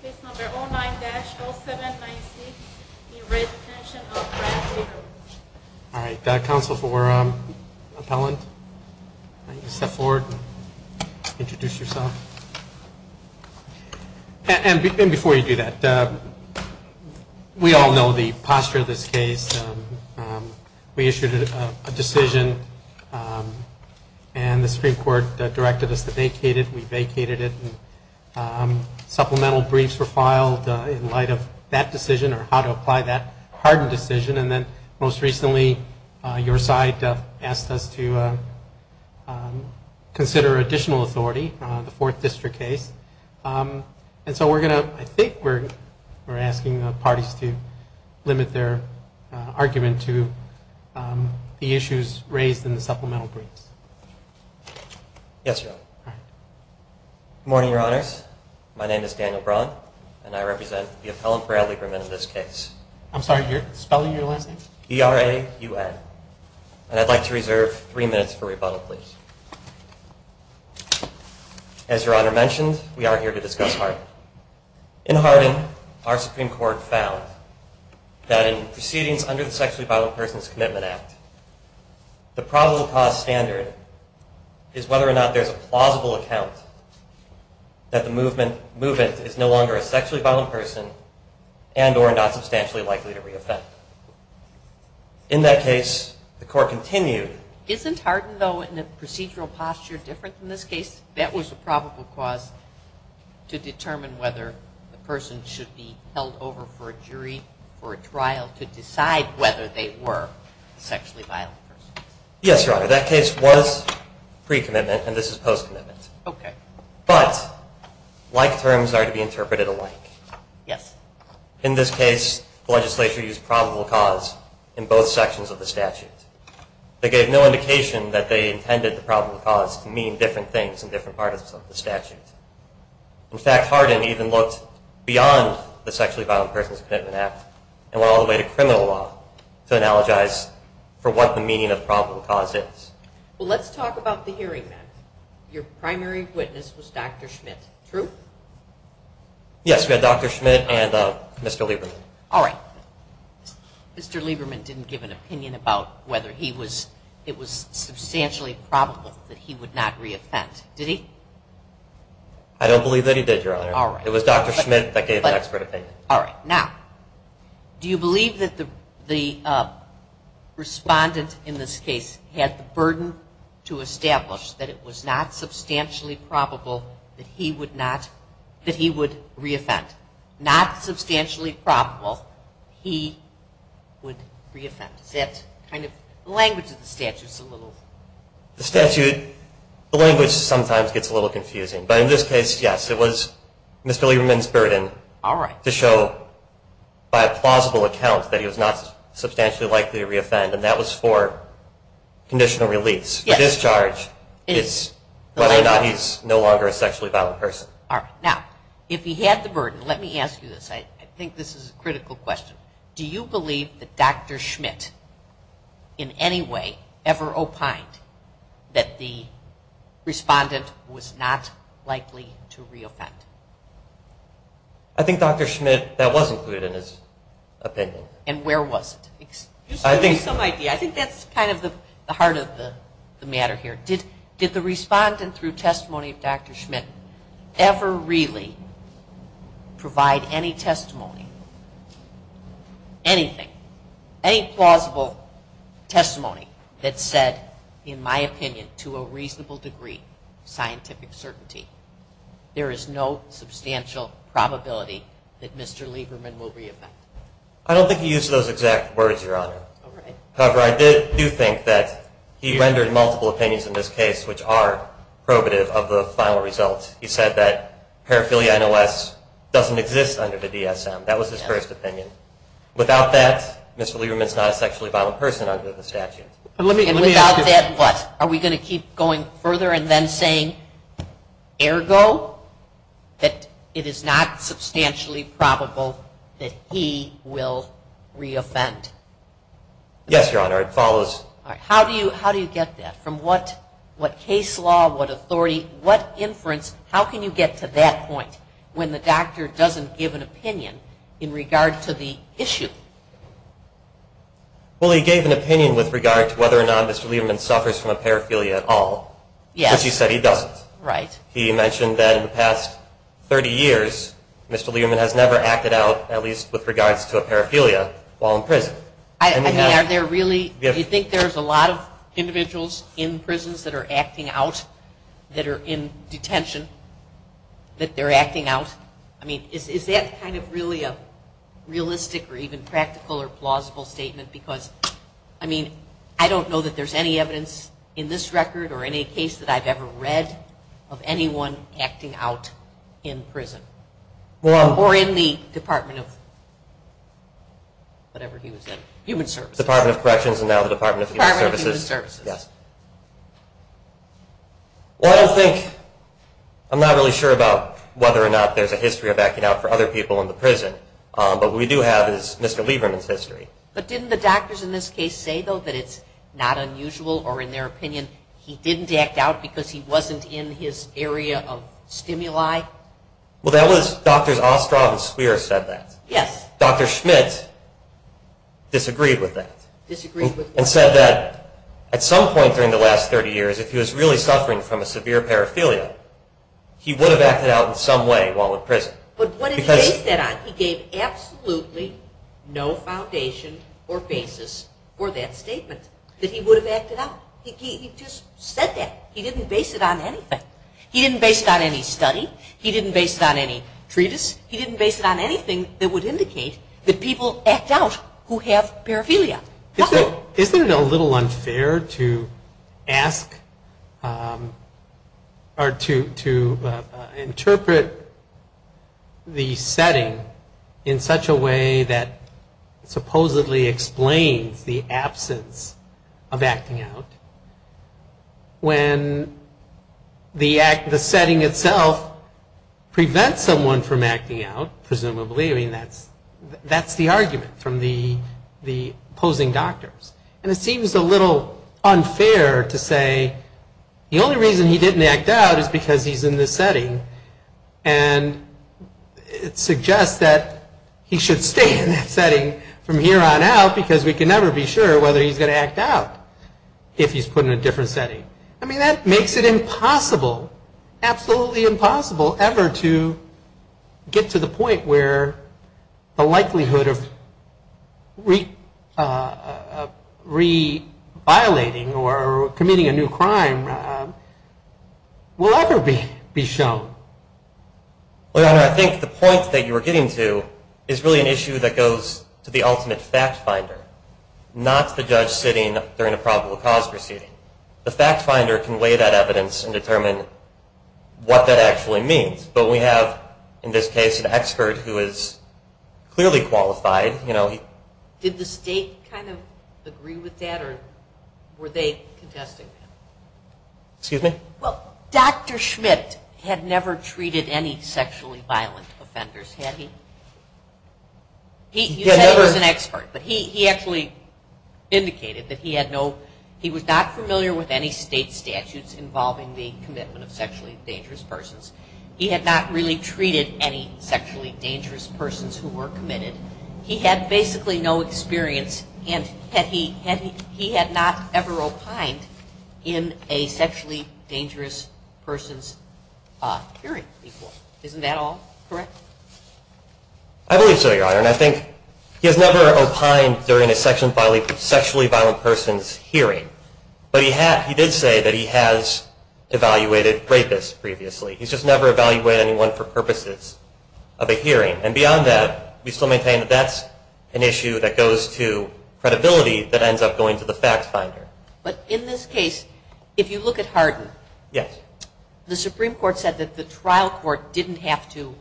Case number 09-0796, in re Detention of Frank Jacobs. All right, counsel for appellant, step forward and introduce yourself. And before you do that, we all know the posture of this case. We issued a decision, and the Supreme Court directed us to vacate it. We vacated it. Supplemental briefs were filed in light of that decision or how to apply that hardened decision. And then most recently your side asked us to consider additional authority on the Fourth District case. And so we're going to – I think we're asking the parties to limit their argument to the issues raised in the supplemental briefs. Yes, Your Honor. Good morning, Your Honors. My name is Daniel Braun, and I represent the appellant for Adlie Lieberman in this case. I'm sorry, what's the spelling of your last name? E-R-A-U-N. And I'd like to reserve three minutes for rebuttal, please. As Your Honor mentioned, we are here to discuss Harden. In Harden, our Supreme Court found that in proceedings under the Sexually Violent Persons Commitment Act, the probable cause standard is whether or not there's a plausible account that the movement is no longer a sexually violent person and or not substantially likely to reoffend. In that case, the court continued. Isn't Harden, though, in a procedural posture different than this case? That was a probable cause to determine whether the person should be held over for a jury for a trial to decide whether they were sexually violent persons. Yes, Your Honor. That case was pre-commitment, and this is post-commitment. Okay. But like terms are to be interpreted alike. Yes. In this case, the legislature used probable cause in both sections of the statute. They gave no indication that they intended the probable cause to mean different things in different parts of the statute. In fact, Harden even looked beyond the Sexually Violent Persons Commitment Act and went all the way to criminal law to analogize for what the meaning of probable cause is. Well, let's talk about the hearing then. Your primary witness was Dr. Schmidt, true? Yes, we had Dr. Schmidt and Mr. Lieberman. All right. Mr. Lieberman didn't give an opinion about whether it was substantially probable that he would not reoffend, did he? I don't believe that he did, Your Honor. All right. It was Dr. Schmidt that gave an expert opinion. All right. Now, do you believe that the respondent in this case had the burden to establish that it was not substantially probable that he would reoffend? Not substantially probable he would reoffend. The language of the statute is a little... The statute, the language sometimes gets a little confusing. But in this case, yes, it was Mr. Lieberman's burden to show by a plausible account that he was not substantially likely to reoffend, and that was for conditional release. Yes. A discharge is whether or not he's no longer a sexually violent person. All right. Now, if he had the burden, let me ask you this. I think this is a critical question. Do you believe that Dr. Schmidt in any way ever opined that the respondent was not likely to reoffend? I think Dr. Schmidt, that was included in his opinion. And where was it? Just to give you some idea. I think that's kind of the heart of the matter here. Did the respondent through testimony of Dr. Schmidt ever really provide any testimony, anything, any plausible testimony that said, in my opinion, to a reasonable degree, scientific certainty, there is no substantial probability that Mr. Lieberman will reoffend? I don't think he used those exact words, Your Honor. All right. However, I do think that he rendered multiple opinions in this case which are probative of the final results. He said that paraphilia NOS doesn't exist under the DSM. That was his first opinion. Without that, Mr. Lieberman is not a sexually violent person under the statute. And without that, what? Are we going to keep going further and then saying, ergo, that it is not substantially probable that he will reoffend? Yes, Your Honor. It follows. All right. How do you get that? From what case law, what authority, what inference, how can you get to that point when the doctor doesn't give an opinion in regard to the issue? Well, he gave an opinion with regard to whether or not Mr. Lieberman suffers from a paraphilia at all. Yes. But he said he doesn't. Right. He mentioned that in the past 30 years, Mr. Lieberman has never acted out, at least with regards to a paraphilia, while in prison. I mean, are there really? Do you think there's a lot of individuals in prisons that are acting out that are in detention, that they're acting out? I mean, is that kind of really a realistic or even practical or plausible statement? Because, I mean, I don't know that there's any evidence in this record or any case that I've ever read of anyone acting out in prison or in the Department of whatever he was in, Human Services. Department of Corrections and now the Department of Human Services. Department of Human Services. Yes. Well, I don't think, I'm not really sure about whether or not there's a history of acting out for other people in the prison, But didn't the doctors in this case say, though, that it's not unusual or, in their opinion, he didn't act out because he wasn't in his area of stimuli? Well, that was, Drs. Ostroff and Swearer said that. Yes. Dr. Schmidt disagreed with that. Disagreed with that. And said that at some point during the last 30 years, if he was really suffering from a severe paraphilia, he would have acted out in some way while in prison. But what did he base that on? He gave absolutely no foundation or basis for that statement, that he would have acted out. He just said that. He didn't base it on anything. He didn't base it on any study. He didn't base it on any treatise. He didn't base it on anything that would indicate that people act out who have paraphilia. Isn't it a little unfair to ask or to interpret the setting in such a way that supposedly explains the absence of acting out, when the setting itself prevents someone from acting out, presumably? I mean, that's the argument from the opposing doctors. And it seems a little unfair to say the only reason he didn't act out is because he's in this setting, and it suggests that he should stay in that setting from here on out, because we can never be sure whether he's going to act out if he's put in a different setting. I mean, that makes it impossible, absolutely impossible, ever to get to the point where the likelihood of re-violating or committing a new crime will ever be shown. Well, Your Honor, I think the point that you were getting to is really an issue that goes to the ultimate fact finder, not the judge sitting during a probable cause proceeding. The fact finder can weigh that evidence and determine what that actually means. But we have, in this case, an expert who is clearly qualified. Did the state kind of agree with that, or were they contesting that? Excuse me? Well, Dr. Schmidt had never treated any sexually violent offenders, had he? You said he was an expert, but he actually indicated that he had no, he was not familiar with any state statutes involving the commitment of sexually dangerous persons. He had not really treated any sexually dangerous persons who were committed. He had basically no experience, and he had not ever opined in a sexually dangerous person's hearing. Isn't that all correct? I believe so, Your Honor. And I think he has never opined during a sexually violent person's hearing. But he did say that he has evaluated rapists previously. He's just never evaluated anyone for purposes of a hearing. And beyond that, we still maintain that that's an issue that goes to credibility that ends up going to the fact finder. But in this case, if you look at Hardin, the Supreme Court said that the trial court didn't have to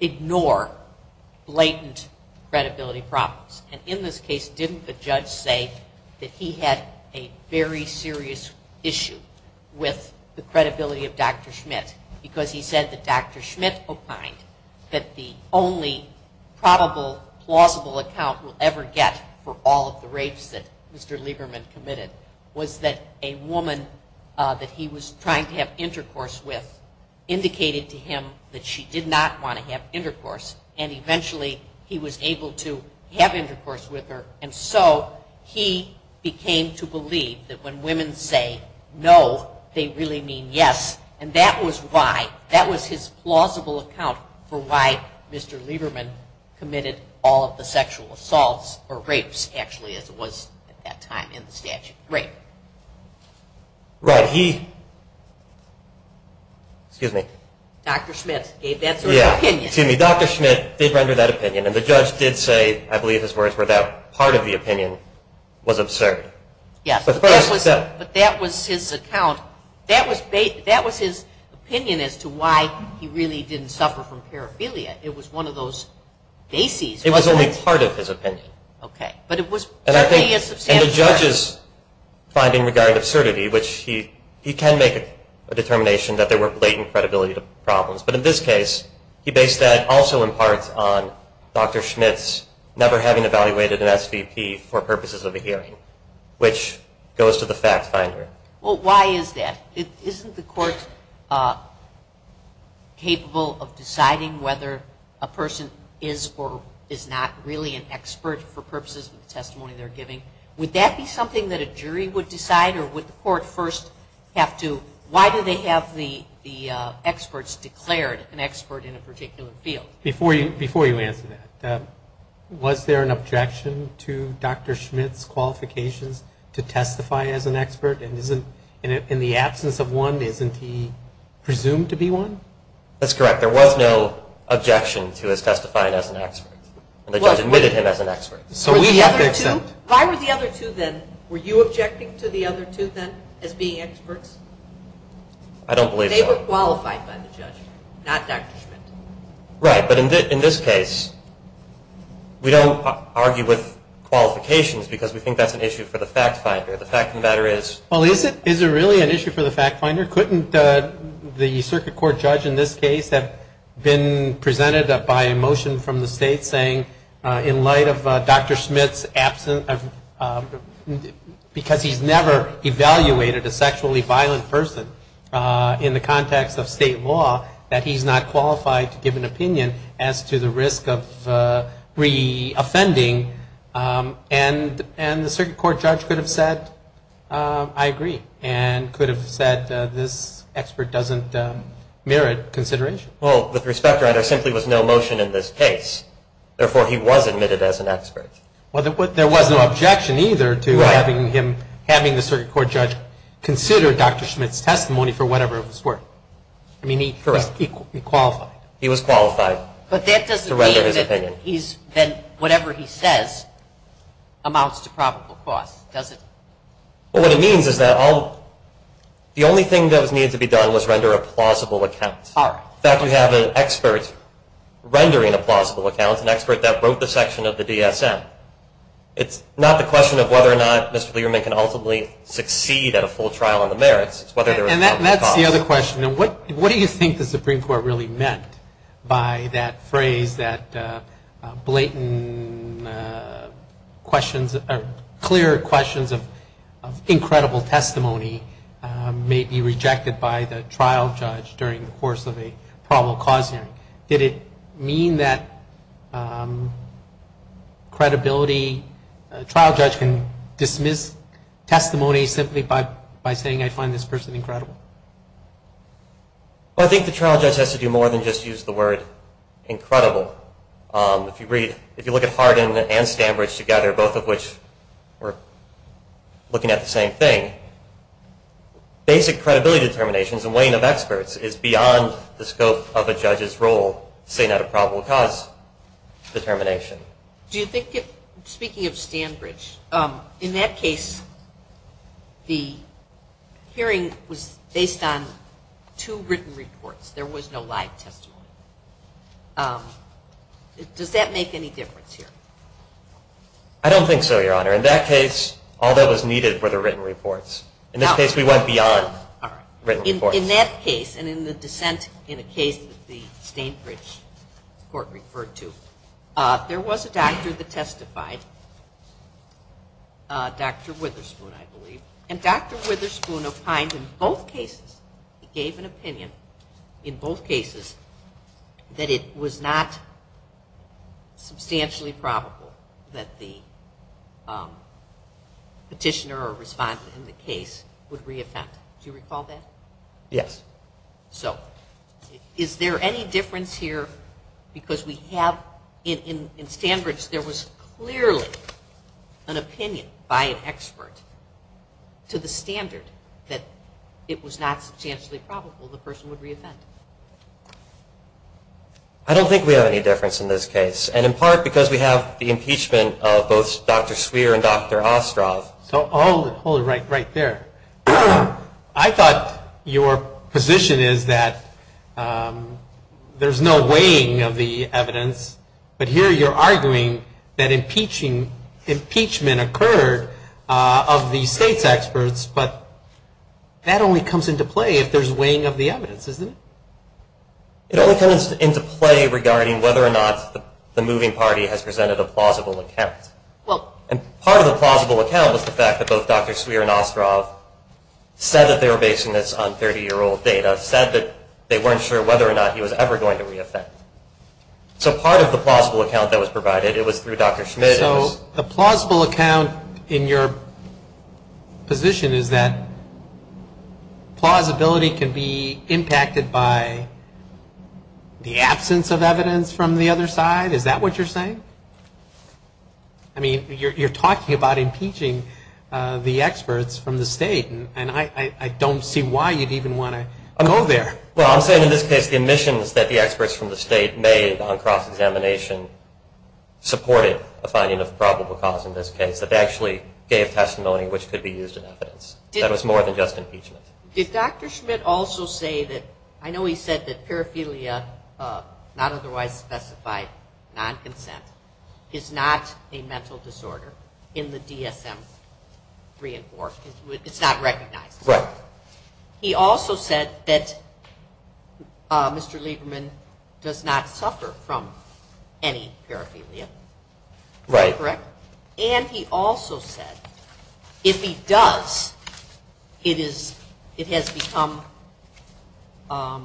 ignore blatant credibility problems. And in this case, didn't the judge say that he had a very serious issue with the credibility of Dr. Schmidt because he said that Dr. Schmidt opined that the only probable plausible account we'll ever get for all of the rapes that Mr. Lieberman committed was that a woman that he was trying to have intercourse with indicated to him that she did not want to have intercourse. And eventually, he was able to have intercourse with her. And so he came to believe that when women say no, they really mean yes. And that was why. That was his plausible account for why Mr. Lieberman committed all of the sexual assaults or rapes, actually, as it was at that time in the statute. Rape. Right. Excuse me. Dr. Schmidt gave that sort of opinion. Excuse me. Dr. Schmidt did render that opinion. And the judge did say, I believe his words were that part of the opinion was absurd. Yes. But that was his account. That was his opinion as to why he really didn't suffer from paraphilia. It was one of those bases. It was only part of his opinion. Okay. And the judge's finding regarding absurdity, which he can make a determination that there were blatant credibility problems. But in this case, he based that also in part on Dr. Schmidt's never having evaluated an SVP for purposes of a hearing, which goes to the fact finder. Well, why is that? Isn't the court capable of deciding whether a person is or is not really an expert for purposes of the testimony they're giving? Would that be something that a jury would decide? Or would the court first have to why do they have the experts declared an expert in a particular field? Before you answer that, was there an objection to Dr. Schmidt's qualifications to testify as an expert? And in the absence of one, isn't he presumed to be one? That's correct. There was no objection to his testifying as an expert. The judge admitted him as an expert. Why were the other two then, were you objecting to the other two then as being experts? I don't believe so. They were qualified by the judge, not Dr. Schmidt. Right. But in this case, we don't argue with qualifications because we think that's an issue for the fact finder. But the fact finder is. Well, is it really an issue for the fact finder? Couldn't the circuit court judge in this case have been presented by a motion from the state saying, in light of Dr. Schmidt's absence, because he's never evaluated a sexually violent person in the context of state law, that he's not qualified to give an opinion as to the risk of re-offending? And the circuit court judge could have said, I agree, and could have said this expert doesn't merit consideration. Well, with respect, there simply was no motion in this case. Therefore, he was admitted as an expert. Well, there was no objection either to having him, having the circuit court judge, consider Dr. Schmidt's testimony for whatever it was worth. I mean, he qualified. He was qualified to render his opinion. Then whatever he says amounts to probable cause, doesn't it? Well, what it means is that the only thing that was needed to be done was render a plausible account. All right. In fact, we have an expert rendering a plausible account, an expert that wrote the section of the DSM. It's not the question of whether or not Mr. Learman can ultimately succeed at a full trial on the merits. It's whether there is probable cause. And that's the other question. What do you think the Supreme Court really meant by that phrase that blatant questions, or clear questions of incredible testimony may be rejected by the trial judge during the course of a probable cause hearing? Did it mean that credibility, trial judge can dismiss testimony simply by saying I find this person incredible? Well, I think the trial judge has to do more than just use the word incredible. If you read, if you look at Hardin and Stanbridge together, both of which were looking at the same thing, basic credibility determinations and weighing of experts is beyond the scope of a judge's role to say not a probable cause determination. Speaking of Stanbridge, in that case, the hearing was based on two written reports. There was no live testimony. Does that make any difference here? I don't think so, Your Honor. In that case, all that was needed were the written reports. In this case, we went beyond written reports. In that case, and in the dissent in a case that the Stanbridge Court referred to, there was a doctor that testified, Dr. Witherspoon, I believe, and Dr. Witherspoon opined in both cases, gave an opinion in both cases, that it was not substantially probable that the petitioner or respondent in the case would reoffend. Do you recall that? Yes. So is there any difference here because we have, in Stanbridge, there was clearly an opinion by an expert to the standard that it was not substantially probable the person would reoffend? I don't think we have any difference in this case, and in part because we have the impeachment of both Dr. Swear and Dr. Ostrov. Hold it right there. I thought your position is that there's no weighing of the evidence, but here you're arguing that impeachment occurred of the state's experts, but that only comes into play if there's weighing of the evidence, isn't it? It only comes into play regarding whether or not the moving party has presented a plausible account, and part of the plausible account was the fact that both Dr. Swear and Dr. Ostrov said that they were basing this on 30-year-old data, said that they weren't sure whether or not he was ever going to reoffend. So part of the plausible account that was provided, it was through Dr. Schmidt. So the plausible account in your position is that plausibility can be impacted by the absence of evidence from the other side? Is that what you're saying? You're talking about impeaching the experts from the state, and I don't see why you'd even want to go there. Well, I'm saying in this case the admissions that the experts from the state made on cross-examination supported a finding of probable cause in this case, that they actually gave testimony which could be used in evidence. That was more than just impeachment. Did Dr. Schmidt also say that, I know he said that paraphilia, not otherwise specified, non-consent, is not a mental disorder in the DSM 3 and 4. It's not recognized. Right. He also said that Mr. Lieberman does not suffer from any paraphilia. Is that correct? And he also said if he does, it has become, I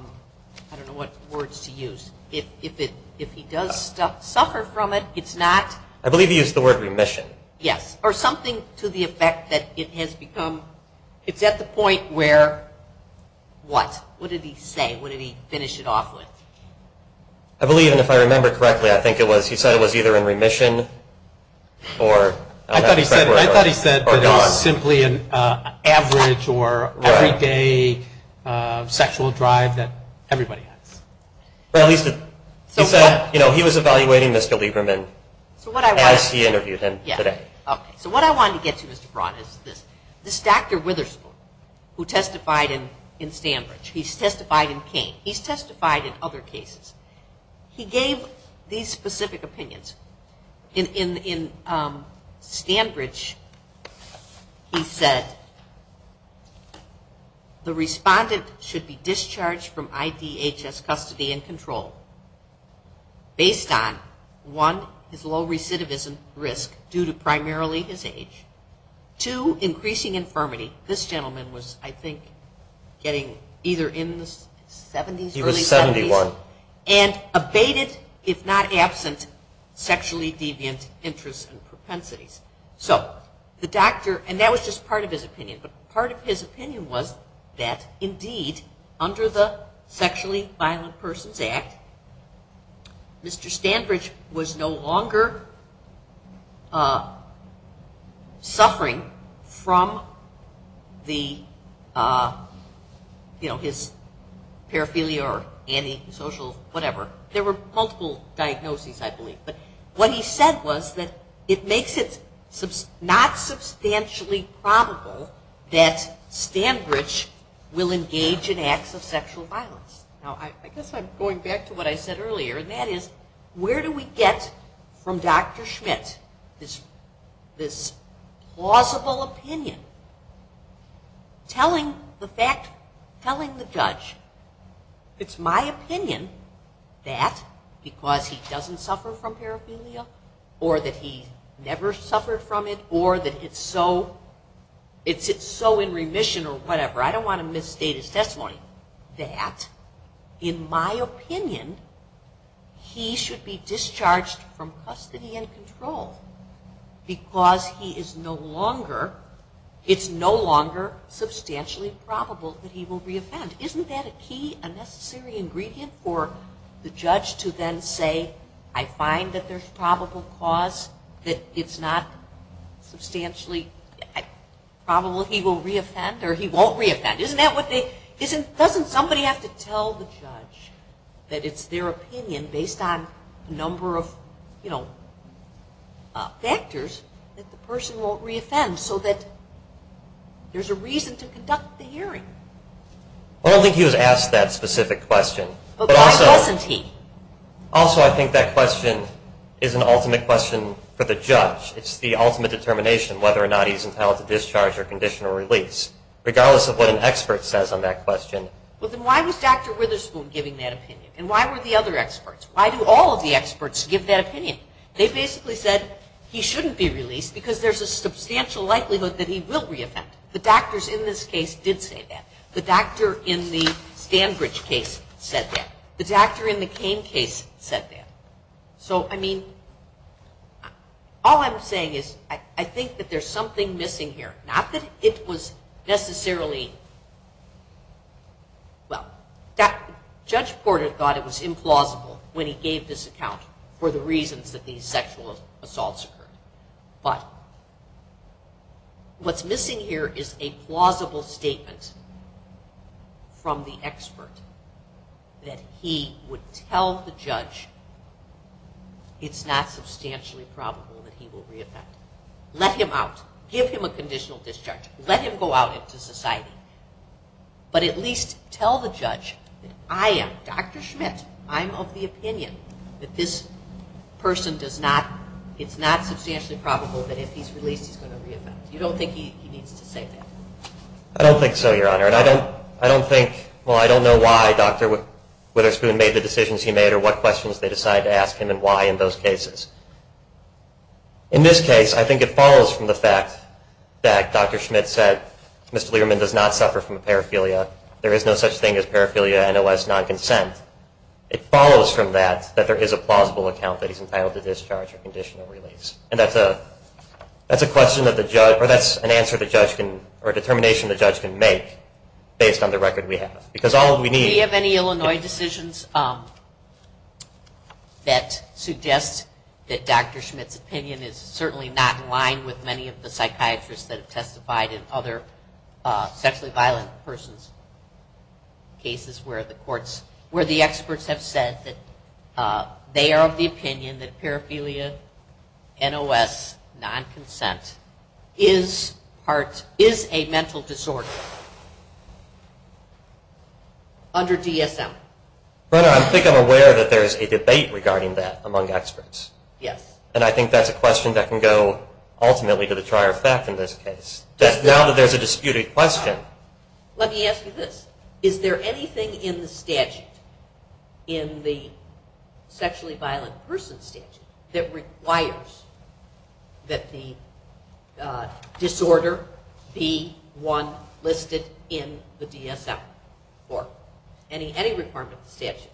don't know what words to use, if he does suffer from it, it's not. I believe he used the word remission. Yes. Or something to the effect that it has become, it's at the point where, what? What did he say? What did he finish it off with? I believe, and if I remember correctly, I think he said it was either in remission or gone. I thought he said that it was simply an average or everyday sexual drive that everybody has. Or at least he said he was evaluating Mr. Lieberman as he interviewed him today. Okay. So what I wanted to get to, Mr. Braun, is this. This Dr. Witherspoon, who testified in Stanbridge, he's testified in Kane, he's testified in other cases. He gave these specific opinions. In Stanbridge he said, the respondent should be discharged from IDHS custody and control based on, one, his low recidivism risk due to primarily his age. Two, increasing infirmity. This gentleman was, I think, getting either in the 70s, early 70s. He was 71. And abated, if not absent, sexually deviant interests and propensities. So the doctor, and that was just part of his opinion, but part of his opinion was that, indeed, under the Sexually Violent Persons Act, Mr. Stanbridge was no longer suffering from the, you know, his paraphilia or antisocial, whatever. There were multiple diagnoses, I believe. But what he said was that it makes it not substantially probable that Stanbridge will engage in acts of sexual violence. Now, I guess I'm going back to what I said earlier, and that is, where do we get from Dr. Schmidt, this plausible opinion telling the fact, telling the judge, it's my opinion that because he doesn't suffer from paraphilia, or that he never suffered from it, or that it's so in remission, or whatever, I don't want to misstate his testimony, that, in my opinion, he should be discharged from custody and control. Because he is no longer, it's no longer substantially probable that he will re-offend. Isn't that a key, a necessary ingredient for the judge to then say, I find that there's probable cause that it's not substantially probable he will re-offend, or he won't re-offend? Doesn't somebody have to tell the judge that it's their opinion, based on a number of factors, that the person won't re-offend, so that there's a reason to conduct the hearing? Well, I don't think he was asked that specific question. But why wasn't he? Also, I think that question is an ultimate question for the judge. It's the ultimate determination whether or not he's entitled to discharge or conditional release. Regardless of what an expert says on that question. Well, then why was Dr. Witherspoon giving that opinion? And why were the other experts? Why do all of the experts give that opinion? They basically said he shouldn't be released, because there's a substantial likelihood that he will re-offend. The doctors in this case did say that. The doctor in the Stanbridge case said that. The doctor in the Cain case said that. So, I mean, all I'm saying is, I think that there's something missing here. Not that it was necessarily... Well, Judge Porter thought it was implausible when he gave this account for the reasons that these sexual assaults occurred. But what's missing here is a plausible statement from the expert that he would tell the judge, it's not substantially probable that he will re-offend. Let him out. Give him a conditional discharge. Let him go out into society. But at least tell the judge that I am, Dr. Schmidt, I'm of the opinion that this person does not, it's not substantially probable that if he's released he's going to re-offend. You don't think he needs to say that? I don't think so, Your Honor. And I don't think, well, I don't know why Dr. Witherspoon made the decisions he made or what questions they decided to ask him and why in those cases. In this case, I think it follows from the fact that Dr. Schmidt said, Mr. Lieberman does not suffer from paraphilia. There is no such thing as paraphilia NOS non-consent. It follows from that that there is a plausible account that he's entitled to discharge or conditional release. And that's a question that the judge, or that's an answer the judge can, or a determination the judge can make based on the record we have. Do we have any Illinois decisions that suggest that Dr. Schmidt's opinion is certainly not in line with many of the psychiatrists that have testified in other sexually violent persons' cases where the courts, where the experts have said that they are of the opinion that paraphilia NOS non-consent is a mental disorder under DSM? I think I'm aware that there's a debate regarding that among experts. Yes. And I think that's a question that can go ultimately to the trier of fact in this case. Now that there's a disputed question. Let me ask you this. Is there anything in the statute, in the sexually violent person statute, that requires that the disorder be one listed in the DSM? Or any requirement of the statute?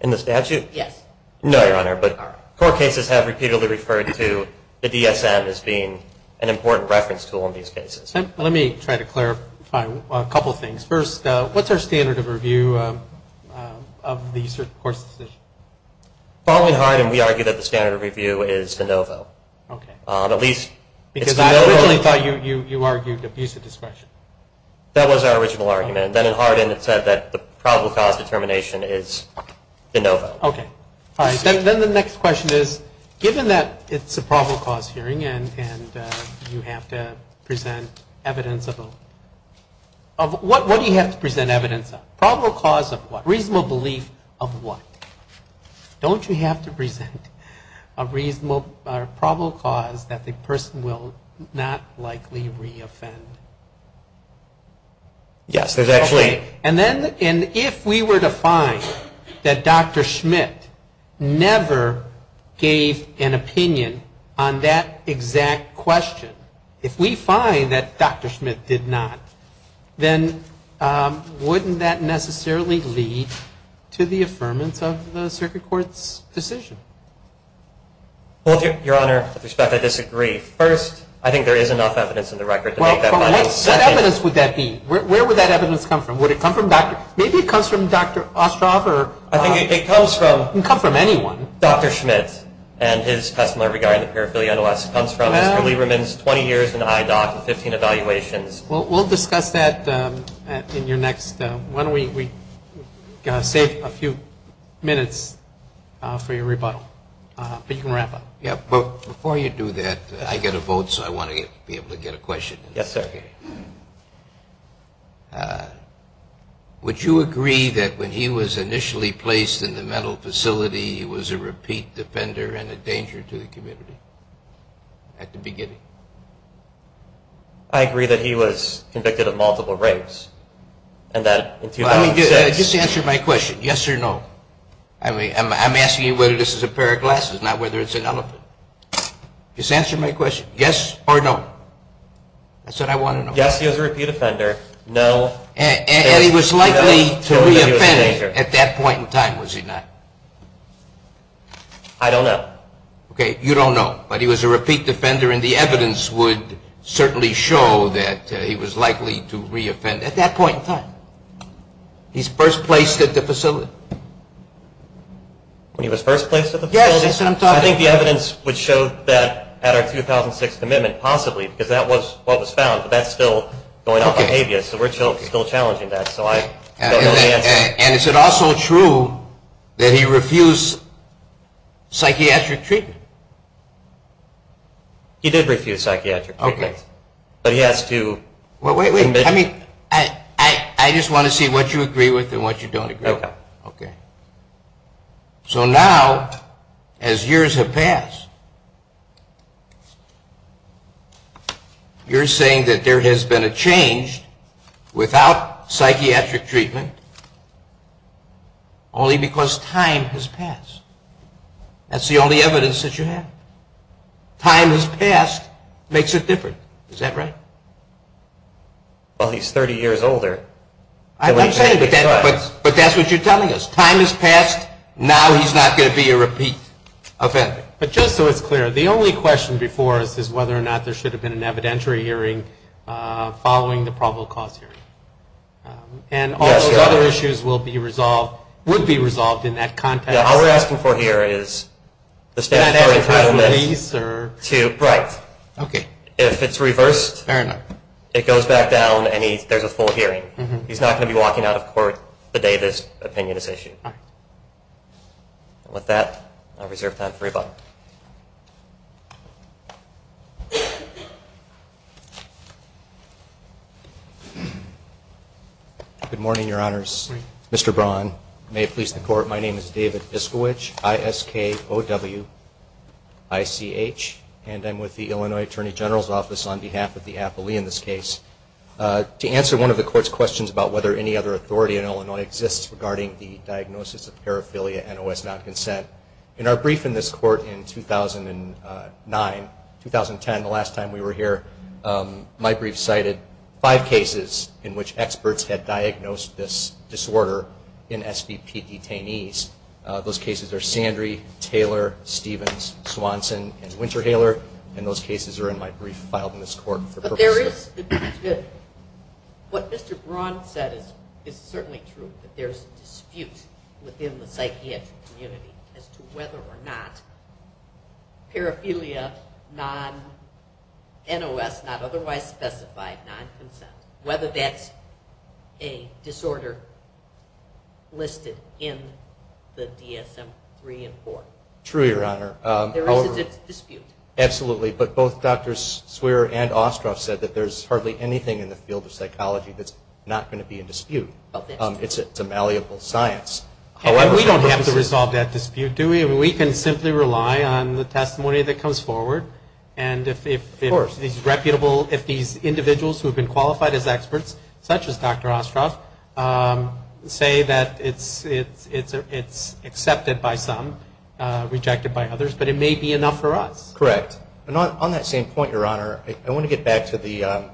In the statute? Yes. No, Your Honor, but court cases have repeatedly referred to the DSM as being an important reference tool in these cases. Let me try to clarify a couple things. First, what's our standard of review of the court's decision? Probably in Hardin we argue that the standard of review is de novo. Okay. At least it's de novo. Because I originally thought you argued abusive discretion. That was our original argument. Then in Hardin it said that the probable cause determination is de novo. Okay. All right. Then the next question is, given that it's a probable cause hearing and you have to present evidence of what? What do you have to present evidence of? Probable cause of what? Don't you have to present a probable cause that the person will not likely reoffend? Yes. Okay. And if we were to find that Dr. Schmidt never gave an opinion on that exact question, if we find that Dr. Schmidt did not, then wouldn't that necessarily lead to the affirmance of the circuit court's decision? Well, Your Honor, with respect, I disagree. First, I think there is enough evidence in the record to make that final decision. Well, what evidence would that be? Where would that evidence come from? Would it come from Dr. Maybe it comes from Dr. Ostroff or I think it comes from It can come from anyone. Dr. Schmidt and his testimony regarding the paraphernalia and OS comes from Mr. Lieberman's 20 years in the eye doc and 15 evaluations. Well, we'll discuss that in your next one. We saved a few minutes for your rebuttal. But you can wrap up. Yeah. But before you do that, I get a vote, so I want to be able to get a question. Yes, sir. Okay. Would you agree that when he was initially placed in the mental facility, he was a repeat defender and a danger to the community at the beginning? I agree that he was convicted of multiple rapes and that Just answer my question, yes or no. I'm asking you whether this is a pair of glasses, not whether it's an elephant. Just answer my question, yes or no. I said I want to know. Yes, he was a repeat offender. No. And he was likely to reoffend at that point in time, was he not? I don't know. Okay. You don't know. But he was a repeat defender and the evidence would certainly show that he was likely to reoffend at that point in time. He's first placed at the facility. When he was first placed at the facility? Yes, that's what I'm talking about. I think the evidence would show that at our 2006 commitment possibly because that was what was found, but that's still going off of habeas, so we're still challenging that, so I don't know the answer. And is it also true that he refused psychiatric treatment? He did refuse psychiatric treatment. Okay. But he has to Well, wait, wait. I mean, I just want to see what you agree with and what you don't agree with. Okay. So now, as years have passed, you're saying that there has been a change without psychiatric treatment only because time has passed. That's the only evidence that you have. Time has passed makes it different. Is that right? Well, he's 30 years older. But that's what you're telling us. Time has passed. Now he's not going to be a repeat offender. But just so it's clear, the only question before us is whether or not there should have been an evidentiary hearing following the probable cause hearing. And all those other issues would be resolved in that context. All we're asking for here is the statutory release. Right. Okay. If it's reversed, it goes back down and there's a full hearing. He's not going to be walking out of court the day this opinion is issued. With that, I reserve time for rebuttal. Good morning, Your Honors. Mr. Braun, may it please the Court, my name is David Iskowich, I-S-K-O-W-I-C-H, and I'm with the Illinois Attorney General's Office on behalf of the appellee in this case. To answer one of the Court's questions about whether any other authority in Illinois exists regarding the diagnosis of paraphilia, NOS non-consent, in our brief in this Court in 2009, 2010, the last time we were here, my brief cited five cases in which experts had diagnosed this disorder in SBP detainees. Those cases are Sandry, Taylor, Stevens, Swanson, and Winterhaler, and those cases are in my brief filed in this Court. But there is, what Mr. Braun said is certainly true, that there's a dispute within the psychiatric community as to whether or not paraphilia non-NOS, not otherwise specified non-consent, whether that's a disorder listed in the DSM-3 and 4. True, Your Honor. There is a dispute. Absolutely. But both Drs. Swearer and Ostroff said that there's hardly anything in the field of psychology that's not going to be in dispute. It's a malleable science. We don't have to resolve that dispute, do we? We can simply rely on the testimony that comes forward, and if these reputable, if these individuals who have been qualified as experts, such as Dr. Ostroff, say that it's accepted by some, rejected by others, but it may be enough for us. Correct. And on that same point, Your Honor, I want to get back to the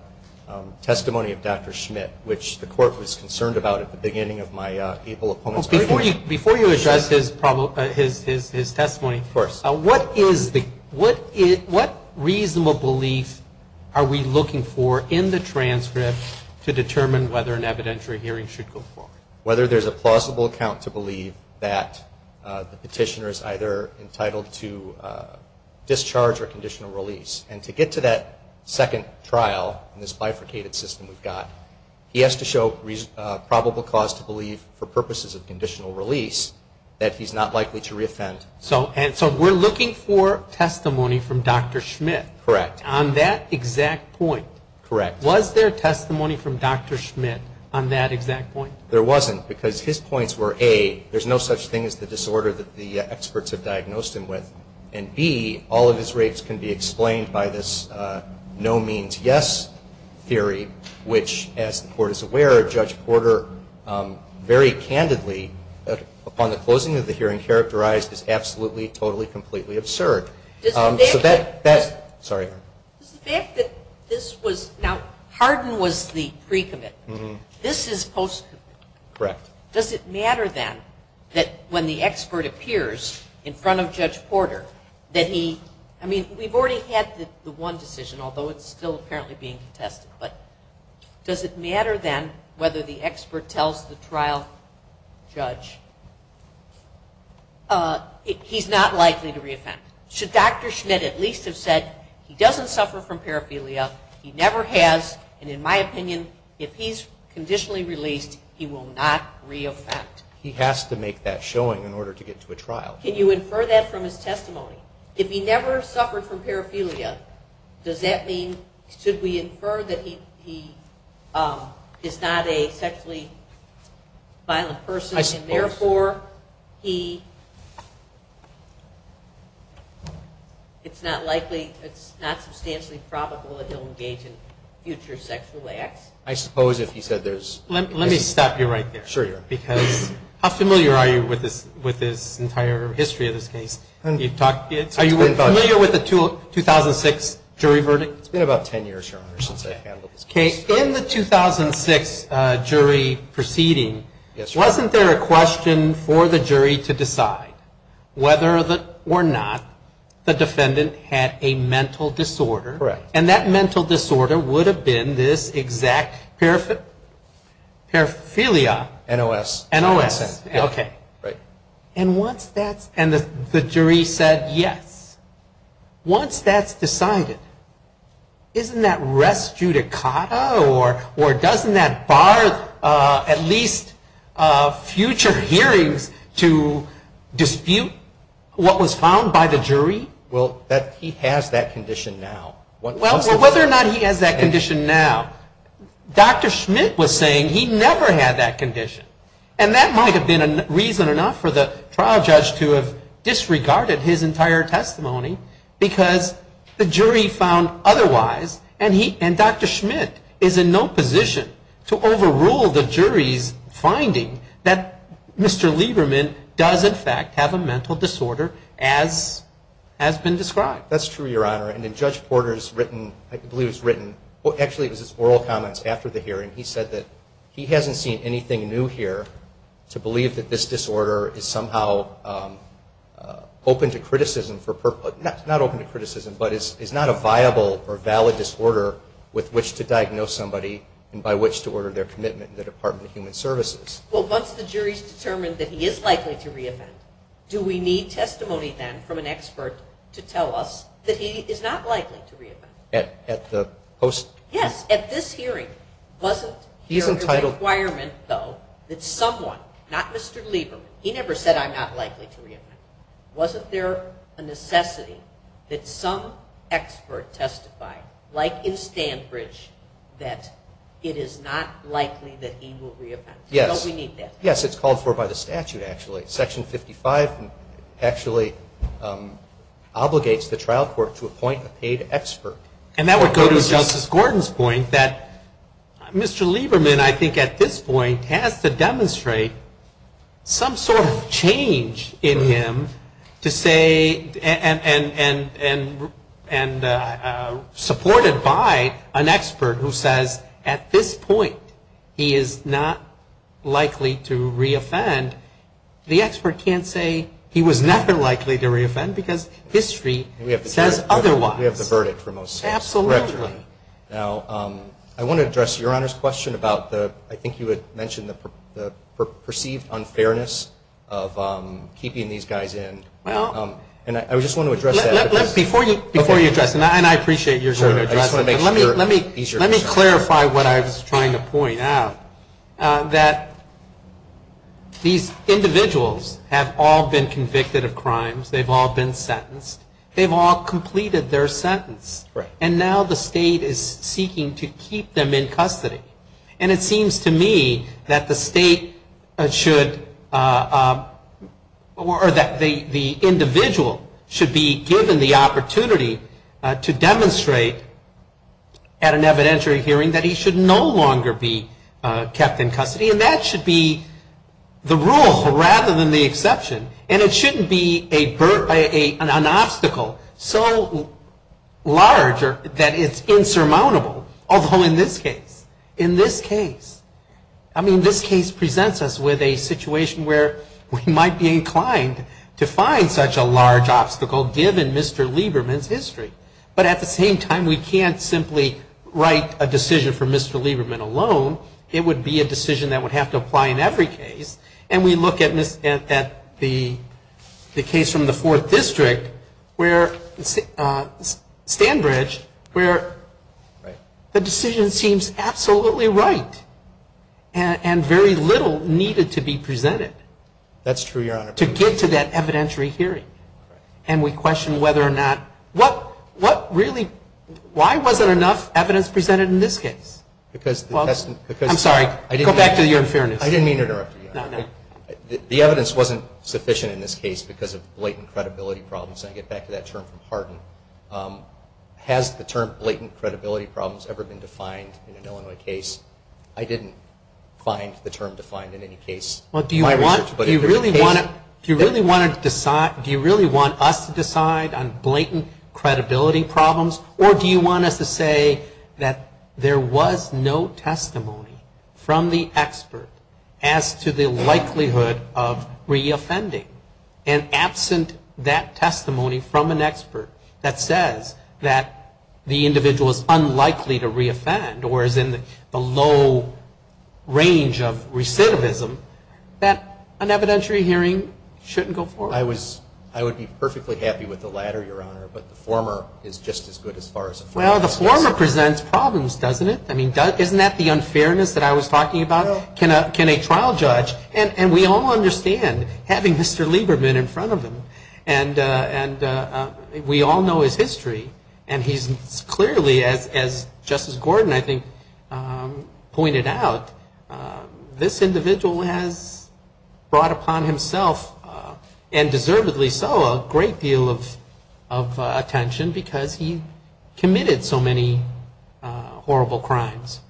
testimony of Dr. Schmitt, which the Court was concerned about at the beginning of my April opponents' hearing. Before you address his testimony, what reasonable belief are we looking for in the transcript to determine whether an evidentiary hearing should go forward? Whether there's a plausible account to believe that the petitioner is either entitled to discharge or conditional release. And to get to that second trial in this bifurcated system we've got, he has to show probable cause to believe for purposes of conditional release that he's not likely to reoffend. So we're looking for testimony from Dr. Schmitt? Correct. On that exact point? Correct. Was there testimony from Dr. Schmitt on that exact point? There wasn't, because his points were, A, there's no such thing as the disorder that the experts have diagnosed him with, and, B, all of his rapes can be explained by this no means yes theory, which, as the Court is aware, Judge Porter very candidly, upon the closing of the hearing, characterized as absolutely, totally, completely absurd. Does the fact that this was, now Hardin was the pre-commitment. This is post-commitment. Correct. Does it matter then that when the expert appears in front of Judge Porter that he, I mean, we've already had the one decision, although it's still apparently being contested, but does it matter then whether the expert tells the trial judge he's not likely to reoffend? Should Dr. Schmitt at least have said he doesn't suffer from paraphernalia, he never has, and, in my opinion, if he's conditionally released, he will not reoffend. He has to make that showing in order to get to a trial. Can you infer that from his testimony? If he never suffered from paraphernalia, does that mean, should we infer that he is not a sexually violent person, and therefore he, it's not likely, it's not substantially probable that he'll engage in future sexual acts? I suppose if he said there's. Let me stop you right there. Sure. Because how familiar are you with this entire history of this case? Are you familiar with the 2006 jury verdict? It's been about 10 years, Your Honor, since I've handled this case. In the 2006 jury proceeding, wasn't there a question for the jury to decide whether or not the defendant had a mental disorder? Correct. And that mental disorder would have been this exact paraphernalia. NOS. NOS. Okay. Right. And once that's, and the jury said yes, once that's decided, isn't that res judicata or doesn't that bar at least future hearings to dispute what was found by the jury? Well, that he has that condition now. Well, whether or not he has that condition now, Dr. Schmidt was saying he never had that condition, and that might have been reason enough for the trial judge to have disregarded his entire testimony because the jury found otherwise, and Dr. Schmidt is in no position to overrule the jury's finding that Mr. Schmidt has been described. That's true, Your Honor. And then Judge Porter's written, I believe it was written, actually it was his oral comments after the hearing, he said that he hasn't seen anything new here to believe that this disorder is somehow open to criticism, not open to criticism, but is not a viable or valid disorder with which to diagnose somebody and by which to order their commitment in the Department of Human Services. Well, once the jury's determined that he is likely to re-offend, do we need testimony then from an expert to tell us that he is not likely to re-offend? At the post? Yes. At this hearing, wasn't there a requirement, though, that someone, not Mr. Lieberman, he never said I'm not likely to re-offend, wasn't there a necessity that some expert testify, like in Stanford, that it is not likely that he will re-offend? Yes. Don't we need that? Yes. Yes, it's called for by the statute, actually. Section 55 actually obligates the trial court to appoint a paid expert. And that would go to Justice Gordon's point that Mr. Lieberman, I think at this point, has to demonstrate some sort of change in him to say, and supported by an expert who says at this point he is not likely to re-offend, the expert can't say he was never likely to re-offend because history says otherwise. We have the verdict for most cases. Absolutely. Now, I want to address Your Honor's question about the, I think you had mentioned the perceived unfairness of keeping these guys in. And I just want to address that. Before you address it, and I appreciate Your Honor addressing it, but let me clarify what I was trying to point out, that these individuals have all been convicted of crimes, they've all been sentenced, they've all completed their sentence, and now the state is seeking to keep them in custody. And it seems to me that the state should, or that the individual should be given the opportunity to demonstrate at an evidentiary hearing that he should no longer be kept in custody. And that should be the rule rather than the exception. And it shouldn't be an obstacle so large that it's insurmountable. Although in this case, in this case, I mean, this case presents us with a situation where we might be inclined to find such a large obstacle, given Mr. Lieberman's history. But at the same time, we can't simply write a decision for Mr. Lieberman alone. It would be a decision that would have to apply in every case. And we look at the case from the Fourth District where Stanbridge, where the decision seems absolutely right and very little needed to be presented. That's true, Your Honor. To get to that evidentiary hearing. And we question whether or not, what really, why wasn't enough evidence presented in this case? Because the test... I'm sorry, go back to your fairness. I didn't mean to interrupt you, Your Honor. No, no. The evidence wasn't sufficient in this case because of blatant credibility problems. And I get back to that term from Hardin. Has the term blatant credibility problems ever been defined in an Illinois case? I didn't find the term defined in any case. Well, do you really want us to decide on blatant credibility problems? Or do you want us to say that there was no testimony from the expert as to the likelihood of reoffending? And absent that testimony from an expert that says that the individual is unlikely to reoffend or is in the low range of recidivism, that an evidentiary hearing shouldn't go forward. I would be perfectly happy with the latter, Your Honor, but the former is just as good as far as the former. Well, the former presents problems, doesn't it? I mean, isn't that the unfairness that I was talking about? Can a trial judge, and we all understand having Mr. Lieberman in front of him, and we all know his history, and he's clearly, as Justice Gordon, I think, pointed out, this individual has brought upon himself, and deservedly so, a great deal of attention because he committed so many horrible crimes.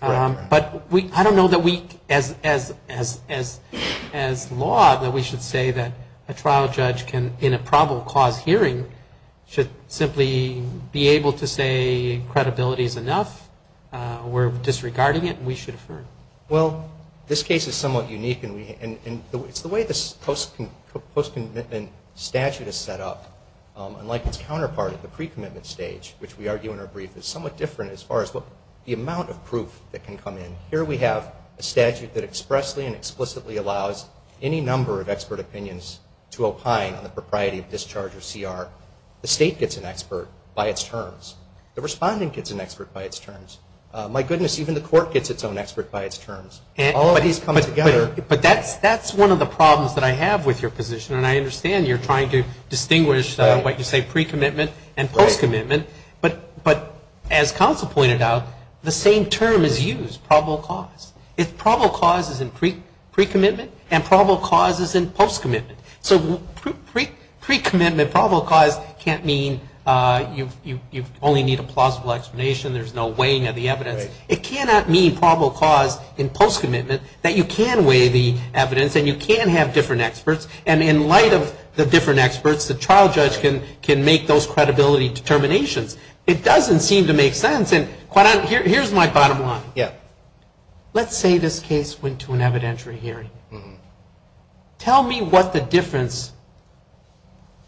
But I don't know that we, as law, that we should say that a trial judge can, in a probable cause hearing, should simply be able to say credibility is enough, we're disregarding it, and we should affirm. Well, this case is somewhat unique, and it's the way the post-commitment statute is set up, unlike its counterpart at the pre-commitment stage, which we argue in our brief, is somewhat different as far as the amount of proof that can come in. Here we have a statute that expressly and explicitly allows any number of expert opinions to opine on the propriety of discharge or CR. The state gets an expert by its terms. The respondent gets an expert by its terms. My goodness, even the court gets its own expert by its terms. All of these come together. But that's one of the problems that I have with your position, and I understand you're trying to distinguish what you say pre-commitment and post-commitment, but as counsel pointed out, the same term is used, probable cause. Probable cause is in pre-commitment, and probable cause is in post-commitment. So pre-commitment, probable cause can't mean you only need a plausible explanation, there's no weighing of the evidence. It cannot mean probable cause in post-commitment that you can weigh the evidence and you can have different experts, and in light of the different experts, the trial judge can make those credibility determinations. It doesn't seem to make sense, and here's my bottom line. Yeah. Let's say this case went to an evidentiary hearing. Tell me what the difference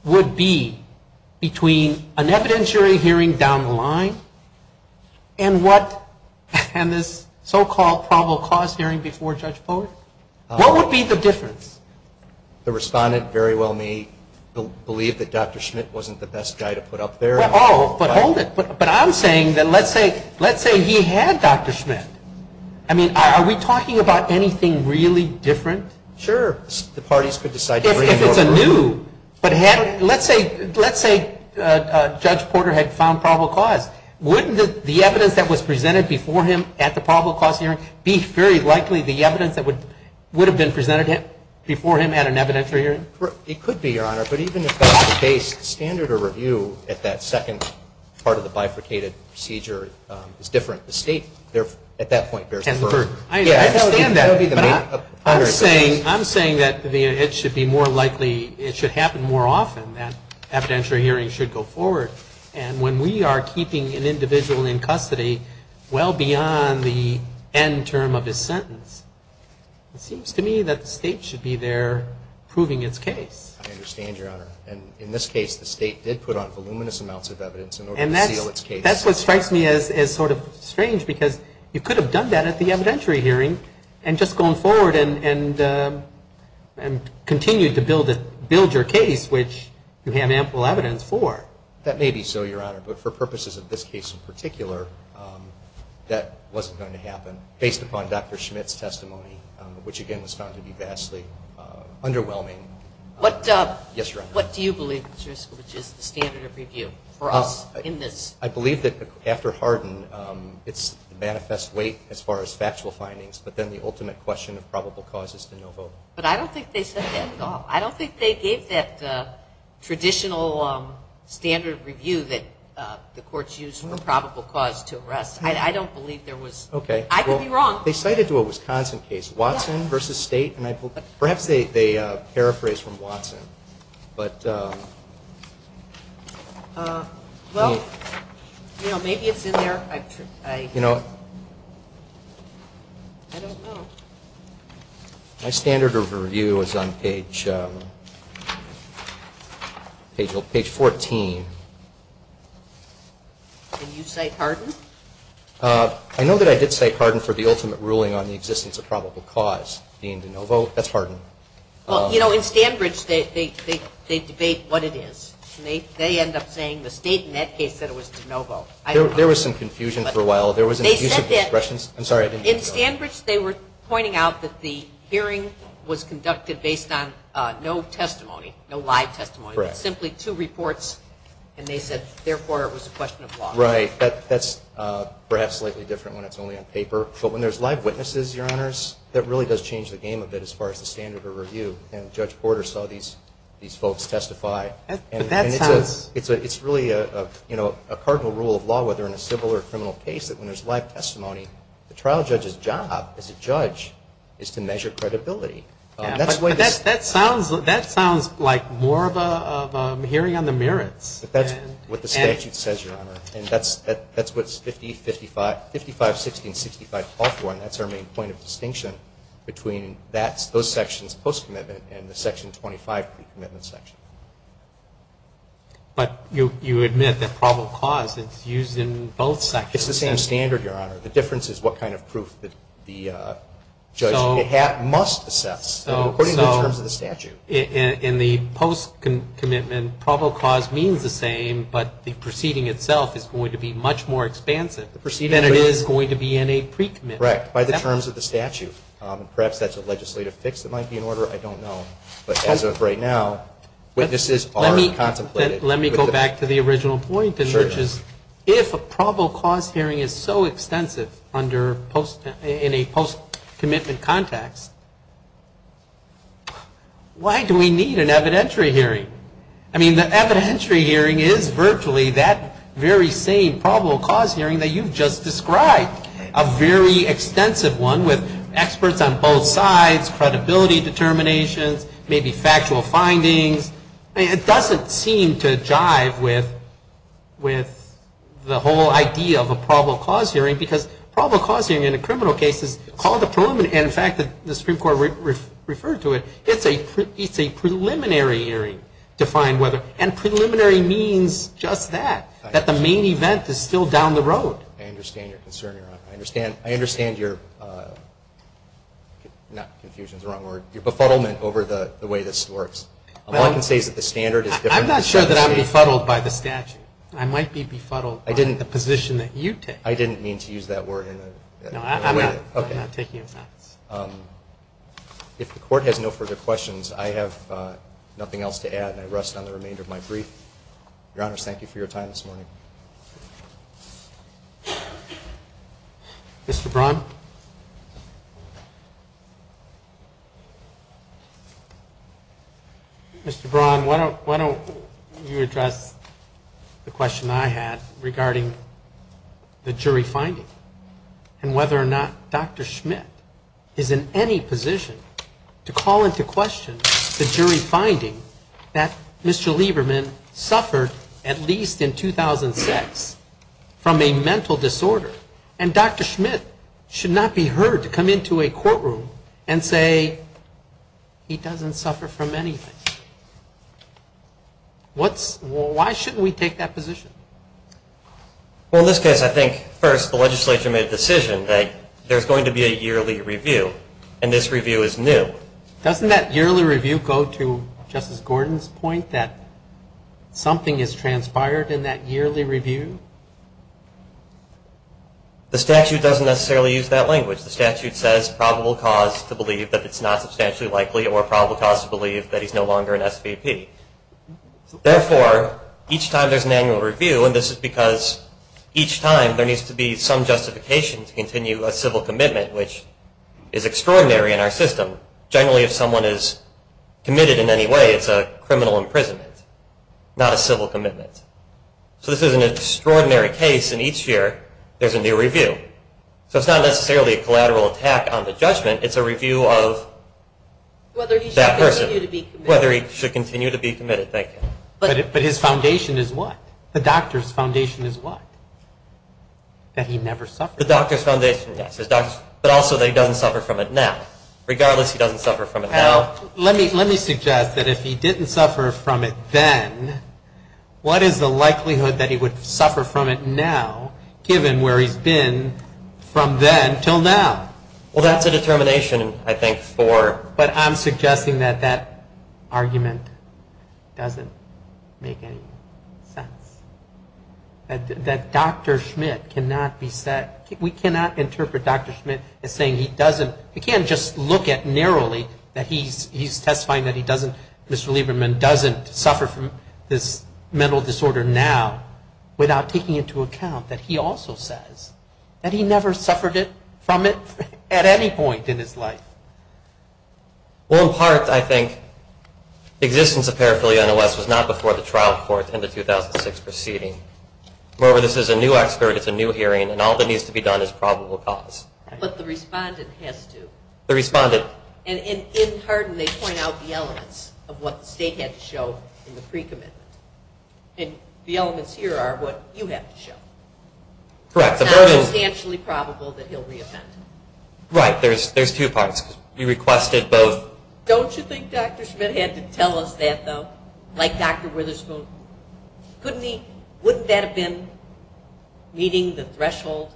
would be between an evidentiary hearing down the line and this so-called probable cause hearing before Judge Bowers. What would be the difference? The respondent very well may believe that Dr. Schmidt wasn't the best guy to put up there. Oh, but hold it. But I'm saying that let's say he had Dr. Schmidt. I mean, are we talking about anything really different? Sure. The parties could decide to bring him over. If it's anew, but let's say Judge Porter had found probable cause. Wouldn't the evidence that was presented before him at the probable cause hearing be very likely the evidence that would have been presented before him at an evidentiary hearing? It could be, Your Honor. But even if the case standard or review at that second part of the bifurcated procedure is different, the state at that point bears the burden. I understand that. But I'm saying that it should be more likely, it should happen more often that evidentiary hearings should go forward. And when we are keeping an individual in custody well beyond the end term of his sentence, it seems to me that the state should be there proving its case. I understand, Your Honor. And in this case, the state did put on voluminous amounts of evidence in order to seal its case. And that's what strikes me as sort of strange because you could have done that at the evidentiary hearing and just gone forward and continued to build your case, which you have ample evidence for. That may be so, Your Honor. But for purposes of this case in particular, that wasn't going to happen based upon Dr. Schmitt's testimony, which again was found to be vastly underwhelming. What do you believe is the standard of review for us in this? I believe that after Hardin it's the manifest weight as far as factual findings, but then the ultimate question of probable cause is the no vote. But I don't think they said that at all. I don't think they gave that traditional standard of review that the courts use for probable cause to arrest. I don't believe there was. Okay. I could be wrong. They cited to a Wisconsin case, Watson v. State. Perhaps they paraphrased from Watson. Well, maybe it's in there. I don't know. My standard of review is on page 14. And you cite Hardin? I know that I did cite Hardin for the ultimate ruling on the existence of probable cause being the no vote. That's Hardin. Well, you know, in Stanbridge they debate what it is. They end up saying the State in that case said it was the no vote. There was some confusion for a while. There was an abuse of discretion. I'm sorry. In Stanbridge they were pointing out that the hearing was conducted based on no testimony, no live testimony. Correct. Simply two reports, and they said therefore it was a question of law. Right. That's perhaps slightly different when it's only on paper. But when there's live witnesses, Your Honors, that really does change the game a bit as far as the standard of review. And Judge Porter saw these folks testify. And it's really a cardinal rule of law, whether in a civil or criminal case, that when there's live testimony, the trial judge's job as a judge is to measure credibility. But that sounds like more of a hearing on the merits. But that's what the statute says, Your Honor. And that's what 55, 16, 65 call for, and that's our main point of distinction between those sections post-commitment and the Section 25 pre-commitment section. But you admit that probable cause is used in both sections. It's the same standard, Your Honor. The difference is what kind of proof the judge must assess, according to the terms of the statute. In the post-commitment, probable cause means the same, but the proceeding itself is going to be much more expansive. And it is going to be in a pre-commitment. Right. By the terms of the statute. Perhaps that's a legislative fix that might be in order. I don't know. But as of right now, witnesses are contemplated. Let me go back to the original point. Sure. If a probable cause hearing is so extensive in a post-commitment context, why do we need an evidentiary hearing? I mean, the evidentiary hearing is virtually that very same probable cause hearing that you've just described, a very extensive one with experts on both sides, credibility determinations, maybe factual findings. I mean, it doesn't seem to jive with the whole idea of a probable cause hearing, because probable cause hearing in a criminal case is called a preliminary. And, in fact, the Supreme Court referred to it. It's a preliminary hearing to find whether. And preliminary means just that, that the main event is still down the road. I understand your concern, Your Honor. I understand your, not confusion is the wrong word, your befuddlement over the way this works. All I can say is that the standard is different. I'm not sure that I'm befuddled by the statute. I might be befuddled by the position that you take. I didn't mean to use that word. No, I'm not taking offense. If the Court has no further questions, I have nothing else to add, and I rest on the remainder of my brief. Your Honor, thank you for your time this morning. Mr. Braun? Mr. Braun, why don't you address the question I had regarding the jury finding and whether or not Dr. Schmidt is in any position to call into question the jury finding that Mr. Lieberman suffered, at least in 2006, from a mental disorder, and Dr. Schmidt should not be heard to come into a courtroom and say he doesn't suffer from anything. Why shouldn't we take that position? Well, in this case, I think, first, the legislature made the decision that there's going to be a yearly review, and this review is new. Doesn't that yearly review go to Justice Gordon's point that something has transpired in that yearly review? The statute doesn't necessarily use that language. The statute says probable cause to believe that it's not substantially likely or probable cause to believe that he's no longer an SVP. Therefore, each time there's an annual review, and this is because each time there needs to be some justification to continue a civil commitment, which is extraordinary in our system. Generally, if someone is committed in any way, it's a criminal imprisonment, not a civil commitment. So this is an extraordinary case, and each year there's a new review. So it's not necessarily a collateral attack on the judgment. It's a review of that person, whether he should continue to be committed. But his foundation is what? The doctor's foundation is what? That he never suffered? The doctor's foundation, yes. But also that he doesn't suffer from it now. Regardless, he doesn't suffer from it now. Let me suggest that if he didn't suffer from it then, what is the likelihood that he would suffer from it now, given where he's been from then until now? Well, that's a determination, I think, for... But I'm suggesting that that argument doesn't make any sense. That Dr. Schmidt cannot be said... We cannot interpret Dr. Schmidt as saying he doesn't... You can't just look at narrowly that he's testifying that he doesn't... Mr. Lieberman doesn't suffer from this mental disorder now without taking into account that he also says that he never suffered from it at any point in his life. Well, in part, I think, existence of paraphilia in the West was not before the trial court in the 2006 proceeding. Moreover, this is a new expert, it's a new hearing, and all that needs to be done is probable cause. But the respondent has to. The respondent... And in Hardin, they point out the elements of what the state had to show in the pre-commitment. And the elements here are what you have to show. Correct. It's not substantially probable that he'll re-offend. Right. There's two parts. You requested both... Don't you think Dr. Schmidt had to tell us that, though? Like Dr. Witherspoon? Couldn't he... Wouldn't that have been meeting the threshold?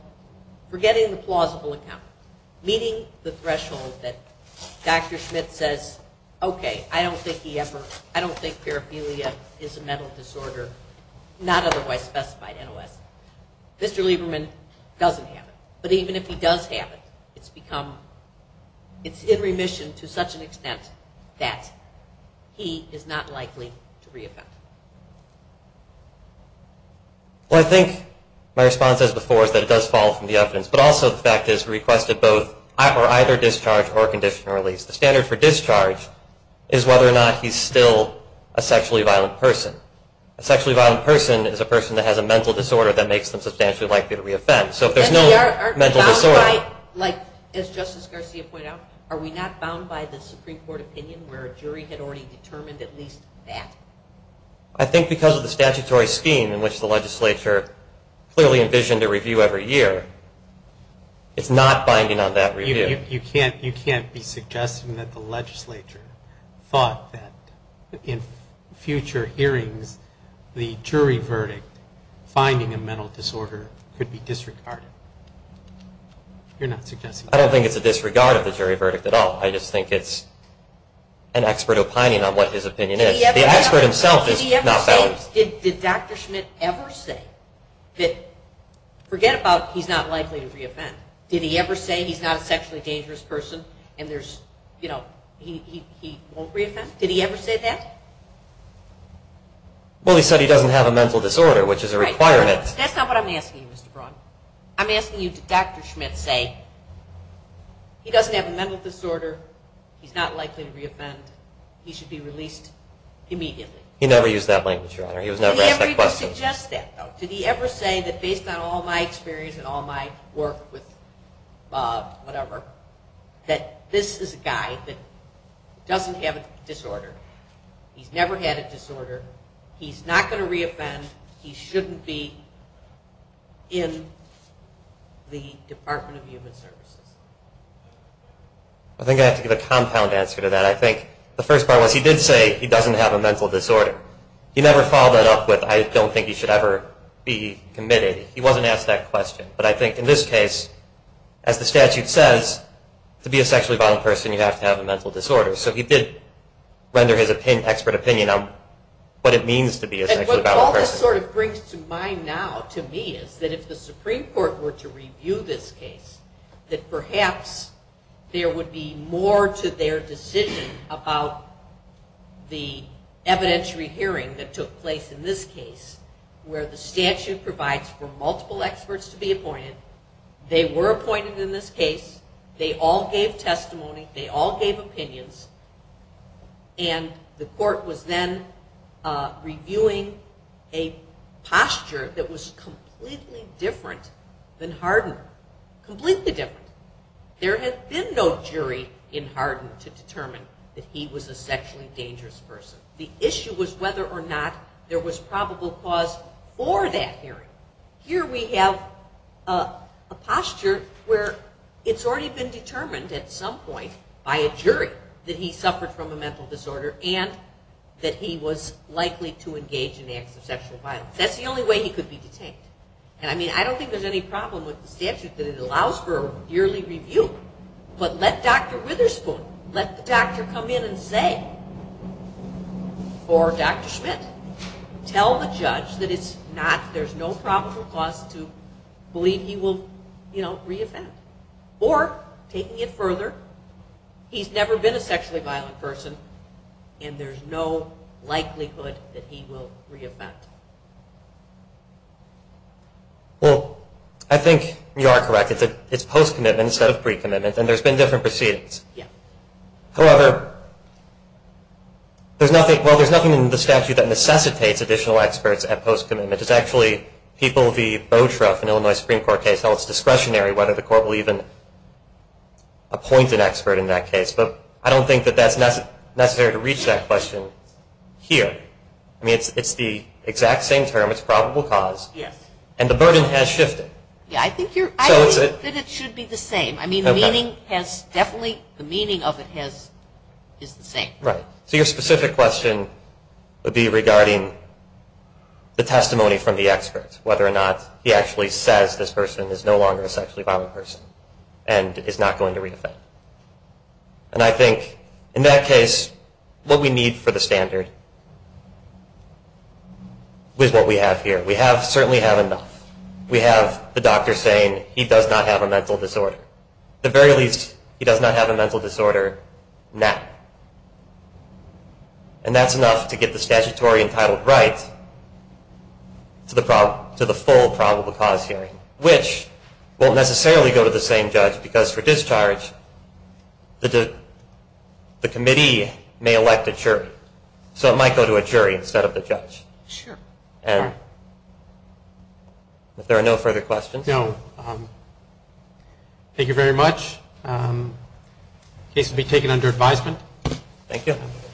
Forgetting the plausible account. Meeting the threshold that Dr. Schmidt says, okay, I don't think he ever... I don't think paraphilia is a mental disorder, not otherwise specified in OS. Mr. Lieberman doesn't have it. But even if he does have it, it's become... It's in remission to such an extent that he is not likely to re-offend. Well, I think my response as before is that it does fall from the evidence. But also the fact is we requested either discharge or conditional release. The standard for discharge is whether or not he's still a sexually violent person. A sexually violent person is a person that has a mental disorder that makes them substantially likely to re-offend. So if there's no mental disorder... As Justice Garcia pointed out, are we not bound by the Supreme Court opinion where a jury had already determined at least that? I think because of the statutory scheme in which the legislature clearly envisioned a review every year, it's not binding on that review. You can't be suggesting that the legislature thought that in future hearings, the jury verdict finding a mental disorder could be disregarded. You're not suggesting that. I don't think it's a disregard of the jury verdict at all. I just think it's an expert opining on what his opinion is. The expert himself is not valid. Did Dr. Schmidt ever say that... Forget about he's not likely to re-offend. Did he ever say he's not a sexually dangerous person and he won't re-offend? Did he ever say that? Well, he said he doesn't have a mental disorder, which is a requirement. That's not what I'm asking you, Mr. Braun. I'm asking you, did Dr. Schmidt say he doesn't have a mental disorder, he's not likely to re-offend, he should be released immediately? He never used that language, Your Honor. Did he ever suggest that, though? Did he ever say that based on all my experience and all my work with Bob, whatever, that this is a guy that doesn't have a disorder, he's never had a disorder, he's not going to re-offend, he shouldn't be in the Department of Human Services? I think I have to give a compound answer to that. I think the first part was he did say he doesn't have a mental disorder. He never followed that up with I don't think he should ever be committed. He wasn't asked that question. But I think in this case, as the statute says, to be a sexually violent person you have to have a mental disorder. So he did render his expert opinion on what it means to be a sexually violent person. What all this sort of brings to mind now to me is that if the Supreme Court were to review this case, that perhaps there would be more to their decision about the evidentiary hearing that took place in this case, where the statute provides for multiple experts to be appointed. They were appointed in this case. They all gave testimony. They all gave opinions. And the court was then reviewing a posture that was completely different than Hardin. Completely different. There had been no jury in Hardin to determine that he was a sexually dangerous person. The issue was whether or not there was probable cause for that hearing. Here we have a posture where it's already been determined at some point by a jury that he suffered from a mental disorder and that he was likely to engage in acts of sexual violence. That's the only way he could be detained. And I mean, I don't think there's any problem with the statute that it allows for a yearly review. But let Dr. Witherspoon, let the doctor come in and say, or Dr. Schmidt, tell the judge that it's not, there's no probable cause to believe he will, you know, re-offend. Or, taking it further, he's never been a sexually violent person and there's no likelihood that he will re-offend. Well, I think you are correct. It's post-commitment instead of pre-commitment. And there's been different proceedings. However, there's nothing in the statute that necessitates additional experts at post-commitment. It's actually people, the BOTRUF in Illinois Supreme Court case, how it's discretionary whether the court will even appoint an expert in that case. But I don't think that that's necessary to reach that question here. Right. I mean, it's the exact same term. It's probable cause. Yes. And the burden has shifted. Yeah, I think that it should be the same. I mean, the meaning has definitely, the meaning of it has, is the same. Right. So your specific question would be regarding the testimony from the expert, whether or not he actually says this person is no longer a sexually violent person and is not going to re-offend. And I think in that case, what we need for the standard is what we have here. We have, certainly have enough. We have the doctor saying he does not have a mental disorder. At the very least, he does not have a mental disorder now. And that's enough to get the statutory entitled right to the full probable cause hearing, which won't necessarily go to the same judge because for discharge, the committee may elect a jury. So it might go to a jury instead of the judge. Sure. And if there are no further questions. No. Thank you very much. The case will be taken under advisement. Thank you.